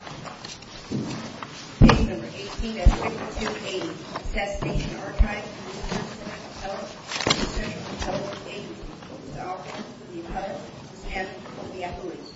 Stage November 18 Savings Income Bill 18. Accessination Archives and Revision Service Association of more than 800 South Indian Cultures, with staffed with the authorities.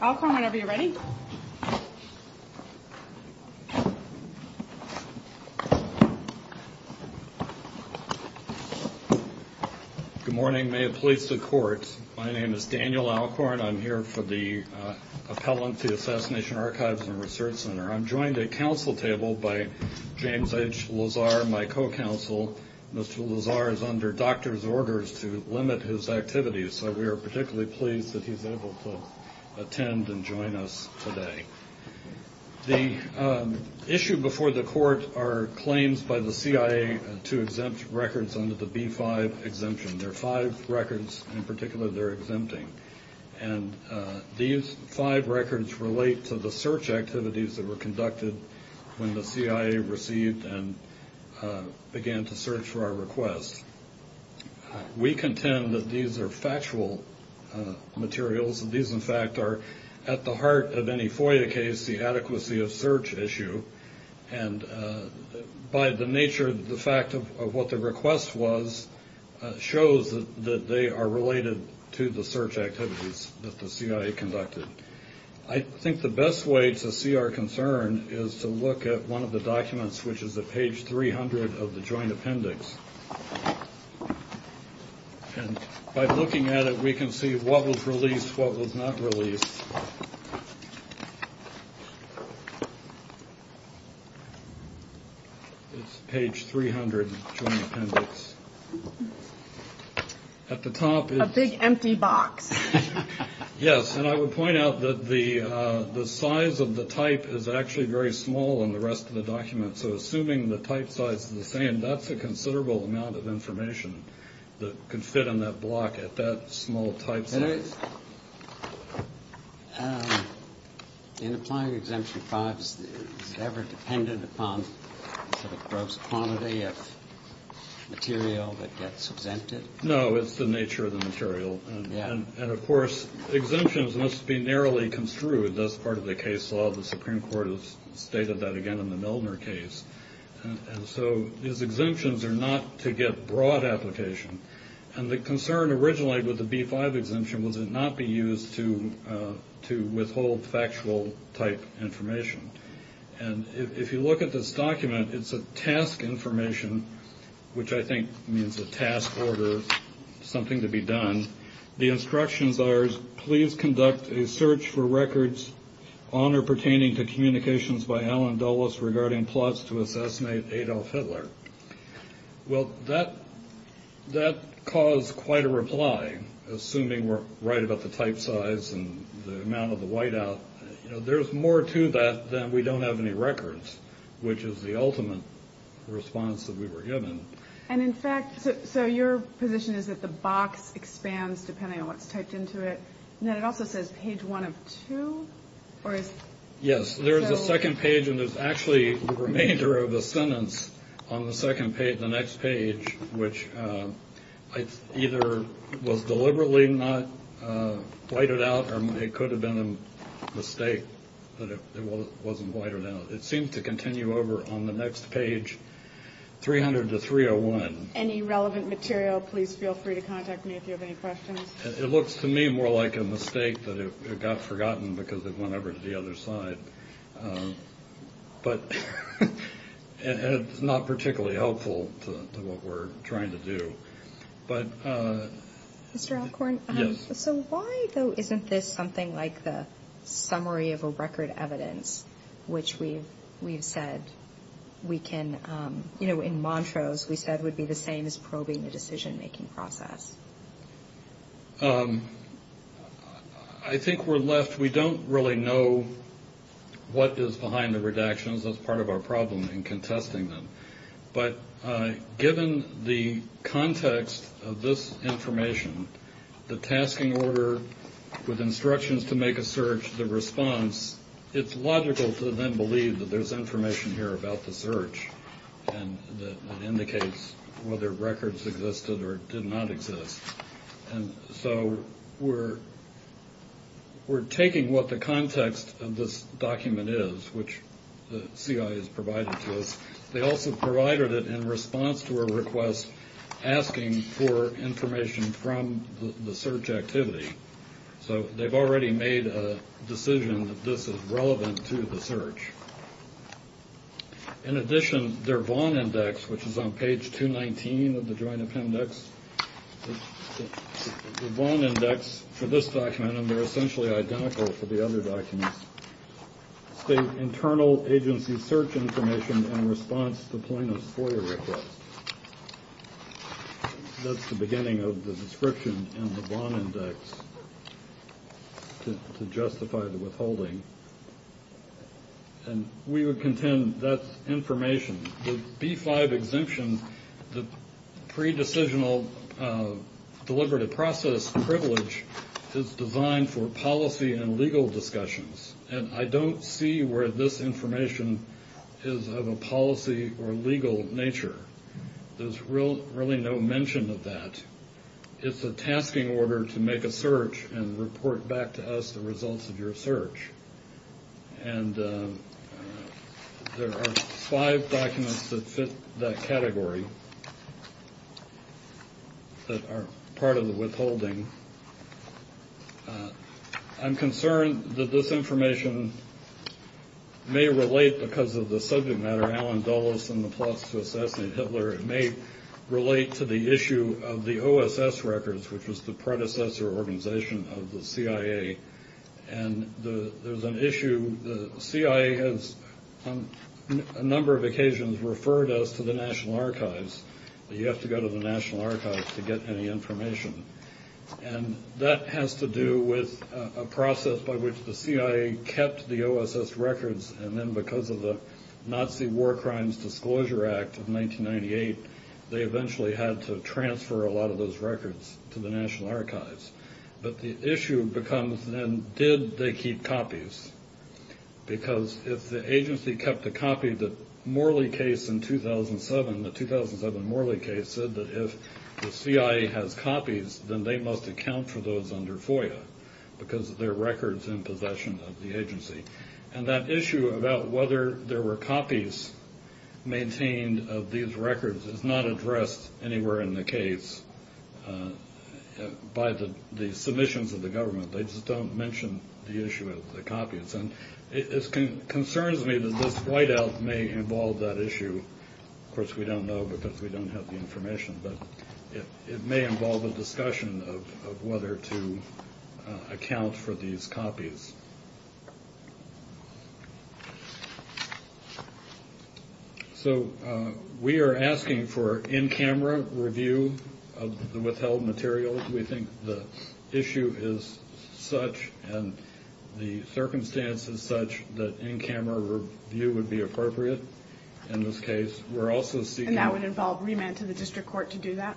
I'll call whenever you're ready. Good morning. May it please the Court. My name is Daniel Alcorn. I'm here for the Appellant to the Assassination Archives and Research Center. I'm joined at council table by James H. Lazar, my co-counsel. Mr. Lazar is under doctor's orders to limit his activities, so we are particularly pleased that he's able to attend and join us today. The issue before the Court are claims by the CIA to exempt records under the B-5 exemption. There are five records in particular they're exempting, and these five records relate to the search activities that were conducted when the CIA received and began to search for our requests. We contend that these are factual materials. These, in fact, are at the heart of any FOIA case the adequacy of search issue, and by the nature of the fact of what the request was shows that they are related to the search activities that the CIA conducted. I think the best way to see our concern is to look at one of the documents, which is at page 300 of the Joint Appendix. By looking at it, we can see what was released, what was not released. It's page 300 of the Joint Appendix. At the top is a big empty box. Yes, and I would point out that the size of the type is actually very small in the rest of the documents. The type size is the same. That's a considerable amount of information that could fit on that block at that small type size. In applying Exemption 5, is it ever dependent upon gross quantity of material that gets exempted? No, it's the nature of the material. And, of course, exemptions must be narrowly construed. As part of the case law, the Supreme Court has stated that again in the Milner case. So these exemptions are not to get broad application. And the concern originally with the B-5 exemption was it not be used to withhold factual type information. And if you look at this document, it's a task information, which I think means a task order, something to be done. The instructions are, please conduct a search for records on or pertaining to communications by Allen Dulles regarding plots to assassinate Adolf Hitler. Well, that caused quite a reply, assuming we're right about the type size and the amount of the whiteout. There's more to that than we don't have any records, which is the ultimate response that we were given. And, in fact, so your position is that the box expands depending on what's typed into it. And then it also says page one of two, or is it? Yes, there is a second page and there's actually the remainder of the sentence on the second page, the next page, which either was deliberately not whited out or it could have been a mistake that it wasn't whited out. It seems to continue over on the next page, 300 to 301. Any relevant material, please feel free to contact me if you have any questions. It looks to me more like a mistake that it got forgotten because it went over to the other side. But it's not particularly helpful to what we're trying to do. Mr. Alcorn, so why, though, isn't this something like the summary of a record evidence, which we've said we can, you know, in Montrose, we said would be the same as probing the decision making process? I think we're left, we don't really know what is behind the redactions as part of our problem in contesting them. But given the context of this information, the tasking order with instructions to make a search, the response, it's logical to then believe that there's information here about the search and that indicates whether records existed or did not exist. And so we're taking what the context of this document is, which the CIA has provided to us. They also provided it in response to a request asking for information from the search activity. So they've already made a decision that this is relevant to the search. In addition, their Vaughn Index, which is on page 219 of the Joint Appendix, the Vaughn Index for this document, and they're essentially identical for the other documents, state internal agency search information in response to plaintiff's FOIA request. That's the beginning of the description in the Vaughn Index to justify the withholding. And we would contend that information, the B-5 exemption, the pre-decisional deliberative process privilege is designed for policy and legal discussions. And I don't see where this information is of a policy or legal nature. There's really no mention of that. It's a tasking order to make a search and report back to us the results of your search. And there are five documents that with that category that are part of the withholding. I'm concerned that this information may relate because of the subject matter, Alan Dulles and the plots to assassinate Hitler. It may relate to the issue of the OSS records, which was the predecessor organization of the CIA. And there's an issue, the CIA has on a number of occasions referred us to the National Archives, but you have to go to the National Archives to get any information. And that has to do with a process by which the CIA kept the OSS records and then because of the Nazi War Crimes Disclosure Act of 1998, they eventually had to transfer a lot of those records to the government. And then did they keep copies? Because if the agency kept a copy, the Morley case in 2007, the 2007 Morley case said that if the CIA has copies, then they must account for those under FOIA because they're records in possession of the agency. And that issue about whether there were copies maintained of these records is not addressed anywhere in the case by the submissions of the government. They just don't mention the issue of the copies. And it concerns me that this whiteout may involve that issue. Of course, we don't know because we don't have the information, but it may involve a discussion of whether to account for these copies. So, we are asking for in-camera review of the withheld material. We think the issue is such and the circumstances such that in-camera review would be appropriate in this case. And that would involve remand to the district court to do that?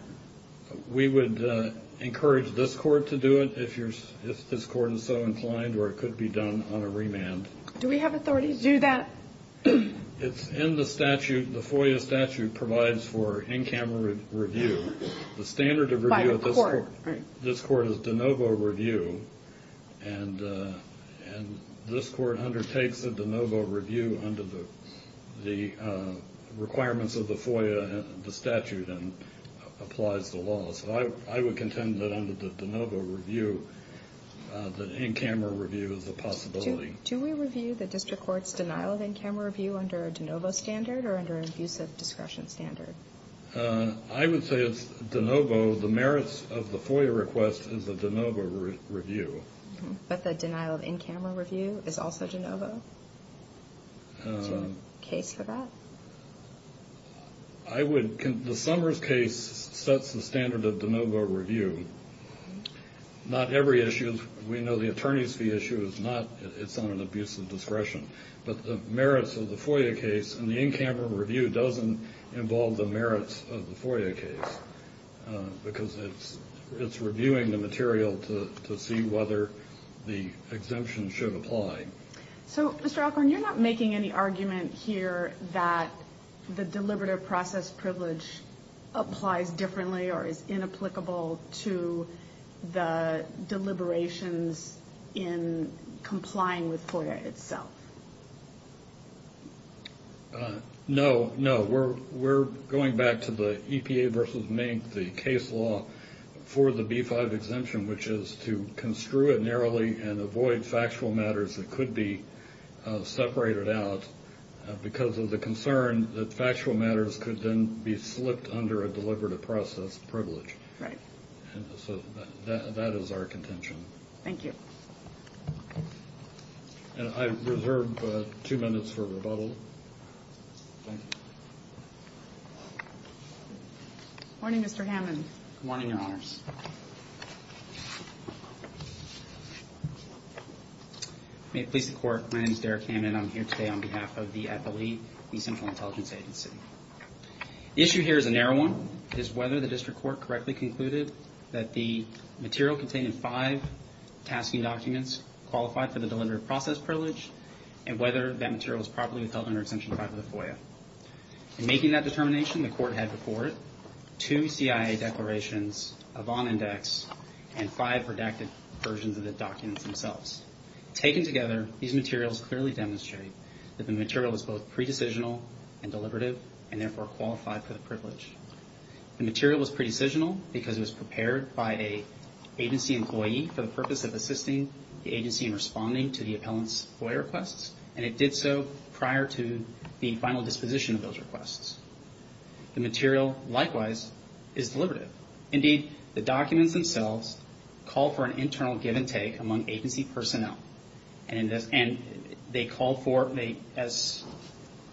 We would encourage this court to do it if this court is so inclined or it could be done on a remand. Do we have authority to do that? It's in the statute. The FOIA statute provides for in-camera review. The standard of review of this court is de novo review. And this court undertakes a de novo review under the requirements of the FOIA and the statute and applies the law. So, I would contend that under the de novo review, the in-camera review is a possibility. Do we review the district court's denial of in-camera review under a de novo standard or under an abusive discretion standard? I would say it's de novo. The merits of the FOIA request is a de novo review. But the denial of in-camera review is also de novo? Is there a case for that? I would, the Summers case sets the standard of de novo review. Not every issue, we know the attorney's fee issue is not, it's on an abusive discretion. But the merits of the FOIA case and the in-camera review doesn't involve the merits of the FOIA case. Because it's reviewing the material to see whether the exemption should apply. So, Mr. Alcorn, you're not making any argument here that the deliberative process privilege applies differently or is inapplicable to the deliberations in complying with FOIA itself? No, no. We're going back to the EPA versus Mink, the case law for the B-5 exemption, which is to construe it narrowly and avoid factual matters that could be separated out because of the concern that factual matters could then be slipped under a deliberative process privilege. So that is our contention. Thank you. And I reserve two minutes for rebuttal. Morning, Mr. Hammond. Good morning, Your Honors. May it please the Court, my name is Derek Hammond and I'm here today on behalf of the FLE, the Central Intelligence Agency. The issue here is a narrow one. It is whether the District Court correctly concluded that the material contained in five tasking documents qualified for the deliberative process privilege and whether that material was properly withheld under Exemption 5 of the FOIA. In making that determination, the Court had before it two CIA declarations, a Vaughn Index, and five redacted versions of the documents themselves. Taken together, these materials clearly demonstrate that the material was both pre-decisional and deliberative and therefore qualified for the privilege. The material was pre-decisional because it was prepared by an agency employee for the purpose of assisting the agency in responding to the appellant's FOIA requests and it did so prior to the final disposition of those requests. The material, likewise, is deliberative. Indeed, the documents themselves call for an internal give and take among agency personnel and they call for, as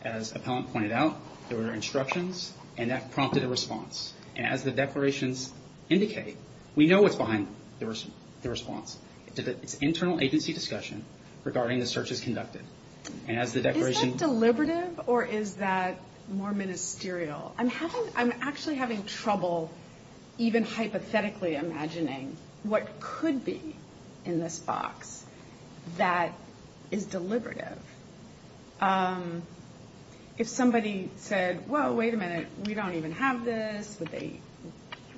appellant pointed out, there were instructions and that prompted a response. And as the declarations indicate, we know what's behind the response. It's internal agency discussion regarding the searches conducted. And as the declaration... Is that deliberative or is that more ministerial? I'm having, I'm actually having trouble even hypothetically imagining what could be in this box that is deliberative. If somebody said, well, wait a minute, we don't even have this, would they,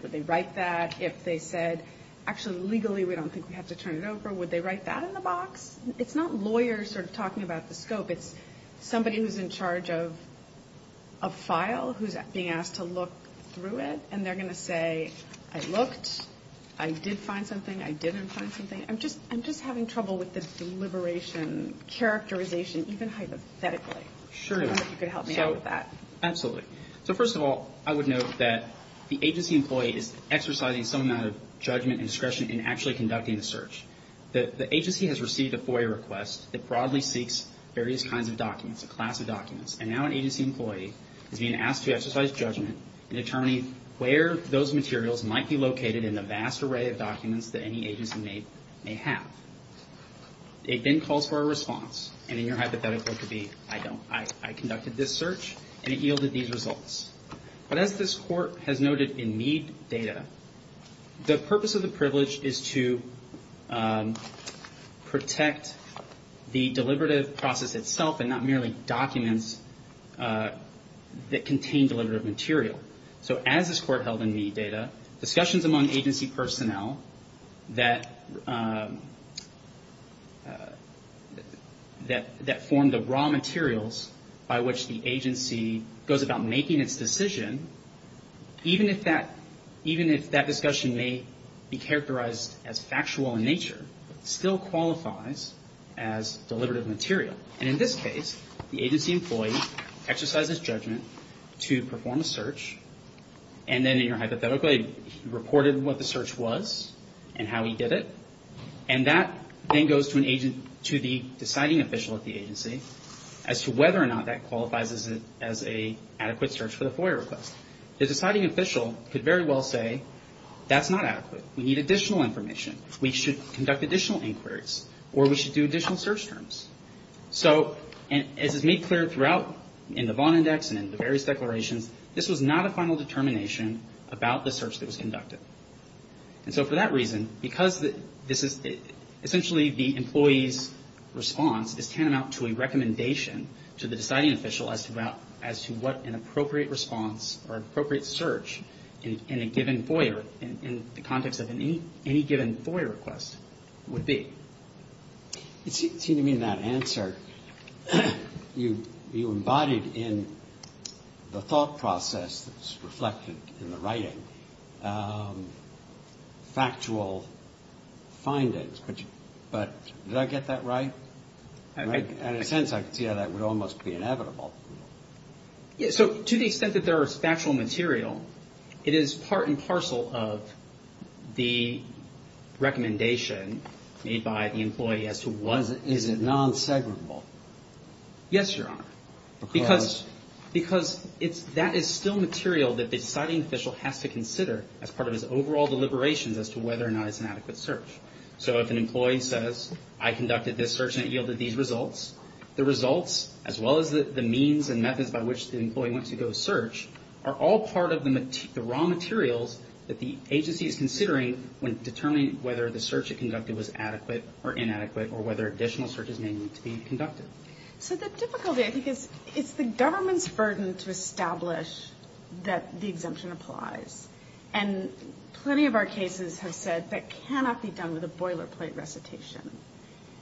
would they write that? If they said, actually, legally, we don't think we have to turn it over, would they write that in the box? It's not lawyers sort of talking about the scope. It's somebody who's in charge of a file who's being asked to look through it and they're going to say, I looked, I did find something, I didn't find something. I'm just having trouble with the deliberation characterization even hypothetically. I wonder if you could help me out with that. Sure. Absolutely. So first of all, I would note that the agency employee is exercising some amount of judgment and discretion in actually conducting the search. The agency has received a FOIA request that broadly seeks various kinds of documents, a class of documents. And now an agency employee is being asked to exercise judgment in determining where those materials might be located in the vast array of documents that any agency may have. It then calls for a response. And in your hypothetical, it could be, I don't, I conducted this search and it yielded these results. But as this court has noted in Mead data, the purpose of the privilege is to protect the deliberative process itself and not merely documents that contain deliberative material. So as this court held in Mead data, discussions among agency personnel that formed the raw materials by which the agency employee was the agency goes about making its decision, even if that, even if that discussion may be characterized as factual in nature, still qualifies as deliberative material. And in this case, the agency employee exercises judgment to perform a search. And then in your hypothetical, he reported what the search was and how he did it. And that then goes to an agent, to the deciding official at the agency as to whether or not that qualifies as a, as a adequate search for the FOIA request. The deciding official could very well say that's not adequate. We need additional information. We should conduct additional inquiries. Or we should do additional search terms. So, and as is made clear throughout in the Vaughan Index and in the various declarations, this was not a final determination about the search that was conducted. And so for that reason, because this is essentially the employee's response is tantamount to a recommendation to the deciding official as to what an appropriate response or appropriate search in a given FOIA, in the context of any given FOIA request would be. It seemed to me in that answer, you embodied in the thought process that's reflected in the factual findings. But did I get that right? In a sense, I could see how that would almost be inevitable. So to the extent that there is factual material, it is part and parcel of the recommendation made by the employee as to what is it. Is it non-separable? Yes, Your Honor. Because it's, that is still material that the deciding official has to consider as part of his overall deliberations as to whether or not it's an adequate search. So if an employee says, I conducted this search and it yielded these results, the results, as well as the means and methods by which the employee went to go search, are all part of the raw materials that the agency is considering when determining whether the search it conducted was adequate or inadequate or whether additional searches may need to be conducted. So the difficulty, I think, is it's the government's burden to establish that the exemption applies. And plenty of our cases have said that cannot be done with a boilerplate recitation.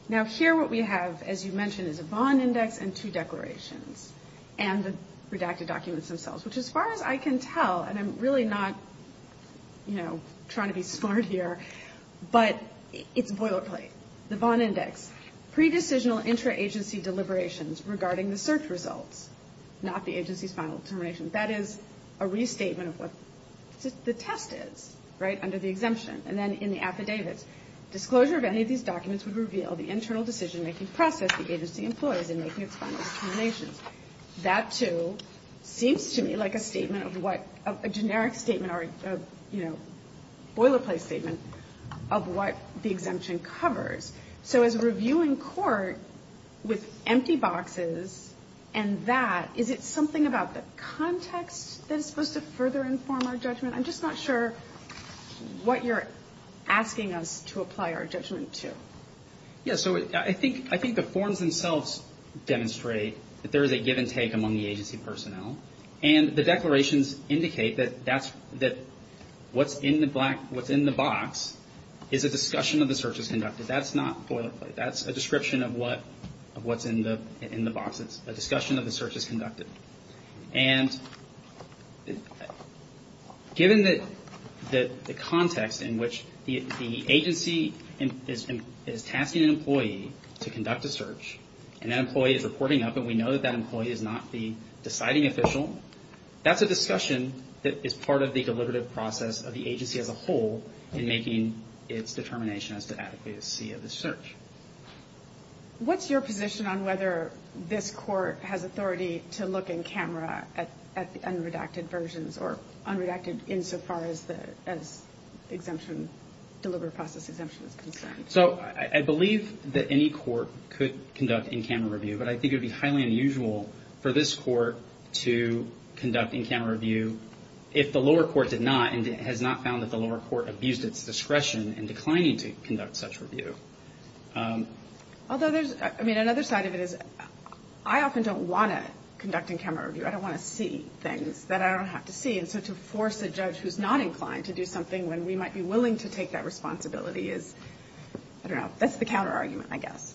Now, here what we have, as you mentioned, is a bond index and two declarations and the redacted documents themselves, which as far as I can tell, and I'm really not, you know, boilerplate, the bond index, pre-decisional intra-agency deliberations regarding the search results, not the agency's final determination. That is a restatement of what the test is, right, under the exemption. And then in the affidavits, disclosure of any of these documents would reveal the internal decision-making process the agency employs in making its final determinations. That, too, seems to me like a statement of what, a generic statement or, you know, boilerplate statement of what the exemption covers. So as reviewing court with empty boxes and that, is it something about the context that is supposed to further inform our judgment? I'm just not sure what you're asking us to apply our judgment to. Yes, so I think the forms themselves demonstrate that there is a give-and-take among the agency personnel, and the declarations indicate that what's in the black, what's in the box is a discussion of the searches conducted. That's not boilerplate. That's a description of what's in the box. It's a discussion of the searches conducted. And given that the context in which the agency is tasking an employee to conduct a search, and that employee is reporting up, and we know that that employee is not the deciding official, that's a discussion that is part of the deliberative process of the agency as a whole in making its determination as to adequacy of the search. What's your position on whether this court has authority to look in camera at the unredacted versions, or unredacted insofar as the exemption, deliberative process exemption is concerned? I believe that any court could conduct in-camera review, but I think it would be highly unusual for this court to conduct in-camera review if the lower court did not, and has not found that the lower court abused its discretion in declining to conduct such review. Although there's, I mean, another side of it is I often don't want to conduct in-camera review. I don't want to see things that I don't have to see. And so to force a judge who's not inclined to do something when we might be willing to take that responsibility is, I don't know, that's the counter-argument, I guess.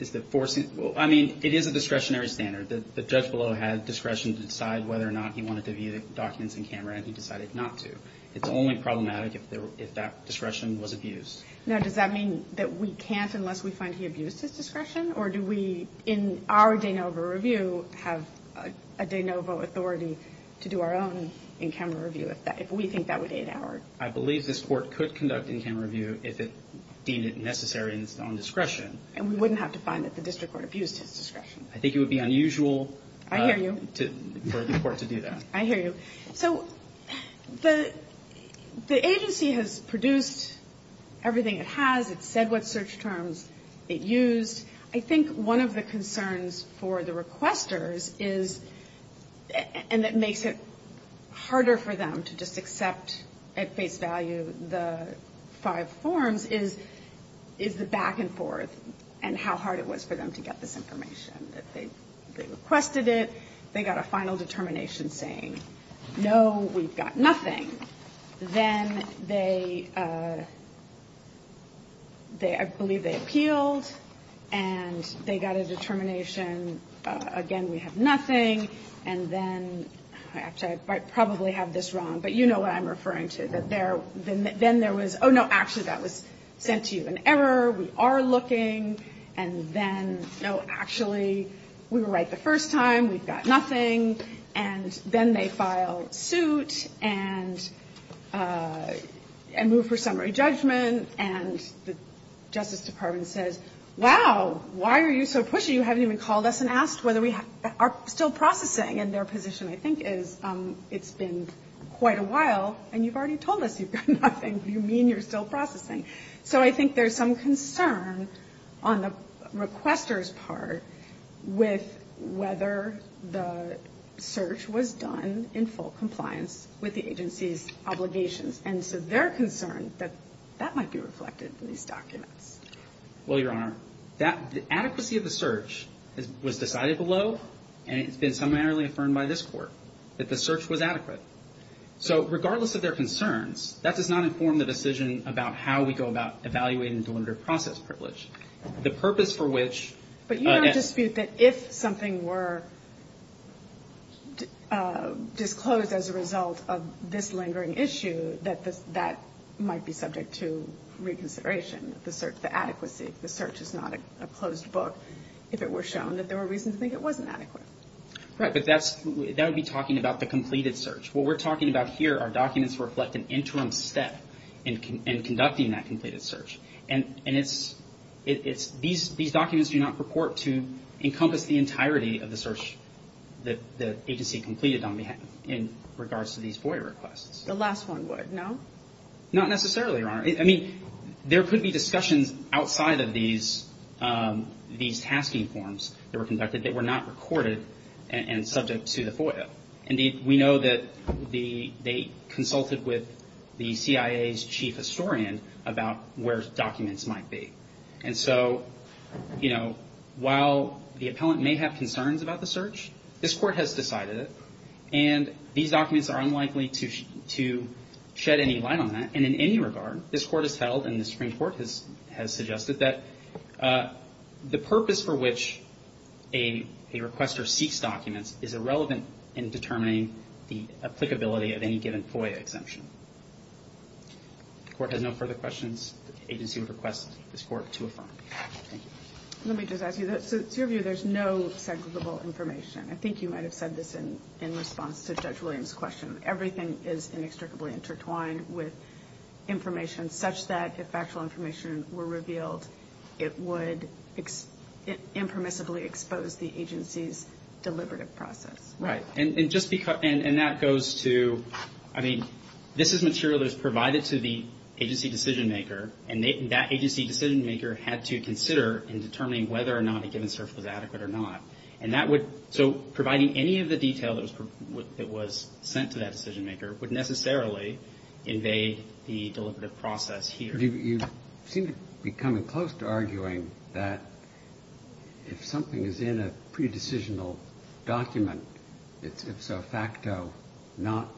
Is that forcing, well, I mean, it is a discretionary standard. The judge below had discretion to decide whether or not he wanted to view the documents in camera, and he decided not to. It's only problematic if that discretion was abused. Now, does that mean that we can't unless we find he abused his discretion, or do we, in our de novo review, have a de novo authority to do our own in-camera review if that, if we think that would aid our? I believe this Court could conduct in-camera review if it deemed it necessary in its own discretion. And we wouldn't have to find that the district court abused his discretion. I think it would be unusual for the court to do that. I hear you. So the agency has produced everything it has. It's said what search terms it used. I think one of the concerns for the requesters is, and that makes it harder for them to just accept at face value the five forms, is the back and forth and how hard it was for them to get this information. They requested it. They got a final determination saying, no, we've got nothing. Then they, I believe they appealed, and they got a determination, again, we have nothing. And then, actually, I probably have this wrong, but you know what I'm referring to, that there, then there was, oh, no, actually, that was sent to you in error. We are looking. And then, no, actually, we were right the first time. We've got nothing. And then they file suit and move for summary judgment. And the Justice Department says, wow, why are you so pushy? You haven't even called us and asked whether we are still processing. And their position, I think, is it's been quite a while, and you've already told us you've got nothing. Do you mean you're still processing? So I think there's some concern on the requester's part with whether the search was done in full compliance with the agency's obligations. And so they're concerned that that might be reflected in these documents. Well, Your Honor, the adequacy of the search was decided below, and it's been summarily affirmed by this Court that the search was adequate. So regardless of their concerns, that does not inform the decision about how we go about evaluating delimitative process privilege. The purpose for which — But Your Honor, I dispute that if something were disclosed as a result of this lingering issue, that that might be subject to reconsideration, the adequacy. The search is not a closed book if it were shown that there were reasons to think it wasn't adequate. Right, but that would be talking about the completed search. What we're talking about here are documents that reflect an interim step in conducting that completed search. And these documents do not purport to encompass the entirety of the search that the agency completed in regards to these FOIA requests. The last one would, no? Not necessarily, Your Honor. I mean, there could be discussions outside of these tasking forms that were conducted that were not recorded and subject to the FOIA. Indeed, we know that they consulted with the CIA's chief historian about where documents might be. And so, you know, while the appellant may have concerns about the search, this Court has decided it. And these documents are unlikely to shed any light on that. And in any regard, this Court has held, and the Supreme Court has suggested, that the purpose for which a requester seeks documents is irrelevant in determining the applicability of any given FOIA exemption. If the Court has no further questions, the agency would request this Court to affirm. Let me just ask you this. To your view, there's no segregable information. I think you might have said this in response to Judge Williams' question. Everything is inextricably intertwined with information such that if factual information were revealed, it would impermissibly expose the agency's deliberative process. Right. And just because, and that goes to, I mean, this is material that was provided to the agency decision-maker, and that agency decision-maker had to consider in determining whether or not a given search was adequate or not. And that would, so providing any of the detail that was sent to that decision-maker would necessarily invade the deliberative process here. You seem to be coming close to arguing that if something is in a pre-decisional document, it's, if so facto, not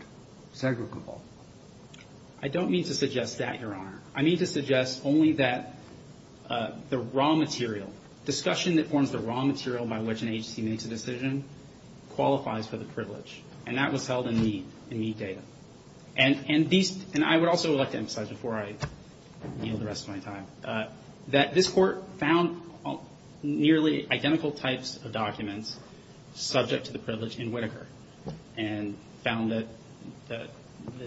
segregable. I don't mean to suggest that, Your Honor. I mean to suggest only that the raw material, discussion that forms the raw material by which an agency makes a decision qualifies for the privilege. And that was held in Mead, in Mead data. And these, and I would also like to emphasize before I yield the rest of my time, that this Court found nearly identical types of documents subject to the privilege in Whitaker and found that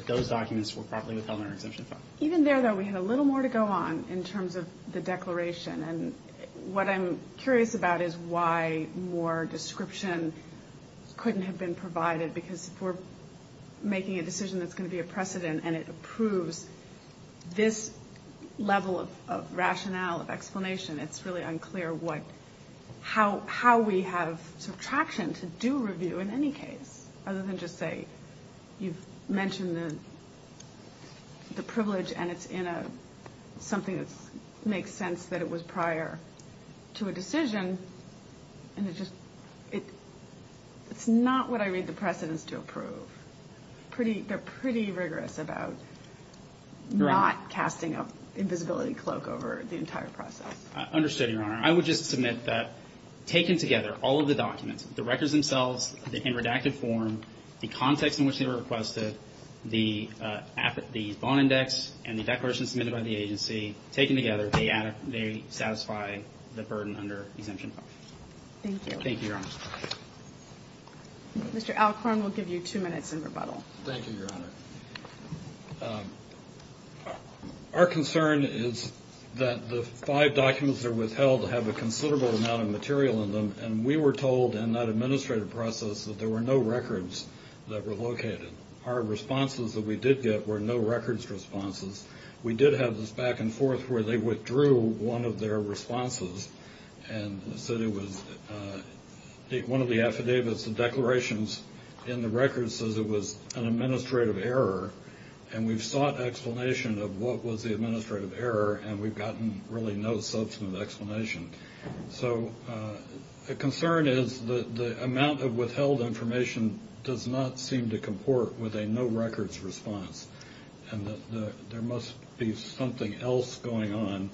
those documents were properly withheld under exemption. Even there, though, we had a little more to go on in terms of the declaration. And what I'm curious about is why more description couldn't have been provided, because if we're making a decision that's going to be a precedent and it approves this level of rationale, of explanation, it's really unclear what, how we have subtraction to do review in any case, other than just say you've mentioned the privilege and it's in a, something that makes sense that it was prior to a decision. And it just, it's not what I read the precedents to approve. Pretty, they're pretty rigorous about not casting an invisibility cloak over the entire process. Understood, Your Honor. I would just submit that taken together, all of the documents, the records themselves, in redacted form, the context in which they were requested, the bond index, and the declaration submitted by the agency, taken together, they satisfy the burden under exemption. Thank you, Your Honor. Our concern is that the five documents that are withheld have a considerable amount of material in them, and we were told in that administrative process that there were no records that were located. Our responses that we did get were no records responses. We did have this back and forth where they withdrew one of their responses and said it was, one of the affidavits, the declarations in the records says it was an administrative error, and we've sought explanation of what was the administrative error and we've gotten really no substantive explanation. So the concern is that the amount of withheld information does not seem to comport with a no records response, and that there must be something else going on.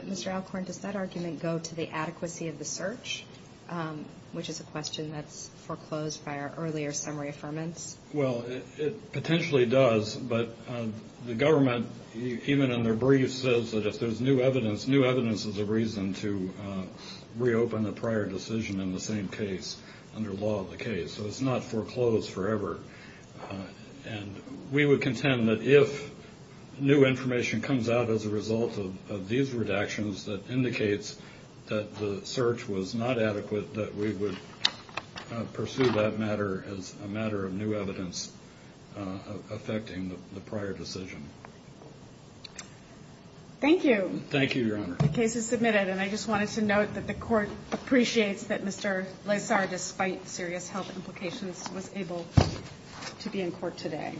Mr. Alcorn, does that argument go to the adequacy of the search, which is a question that's foreclosed by our earlier summary affirmance? Well, it potentially does, but the government, even in their briefs, says that if there's new evidence, new evidence is a reason to reopen a prior decision in the same case under law of the case. So it's not foreclosed forever, and we would contend that if new information comes out as a result of these redactions that indicates that the search was not adequate, that we would pursue that matter as a matter of new evidence affecting the prior decision. Thank you. The case is submitted, and I just wanted to note that the court appreciates that Mr. Lazar, despite serious health implications, was able to be in court today.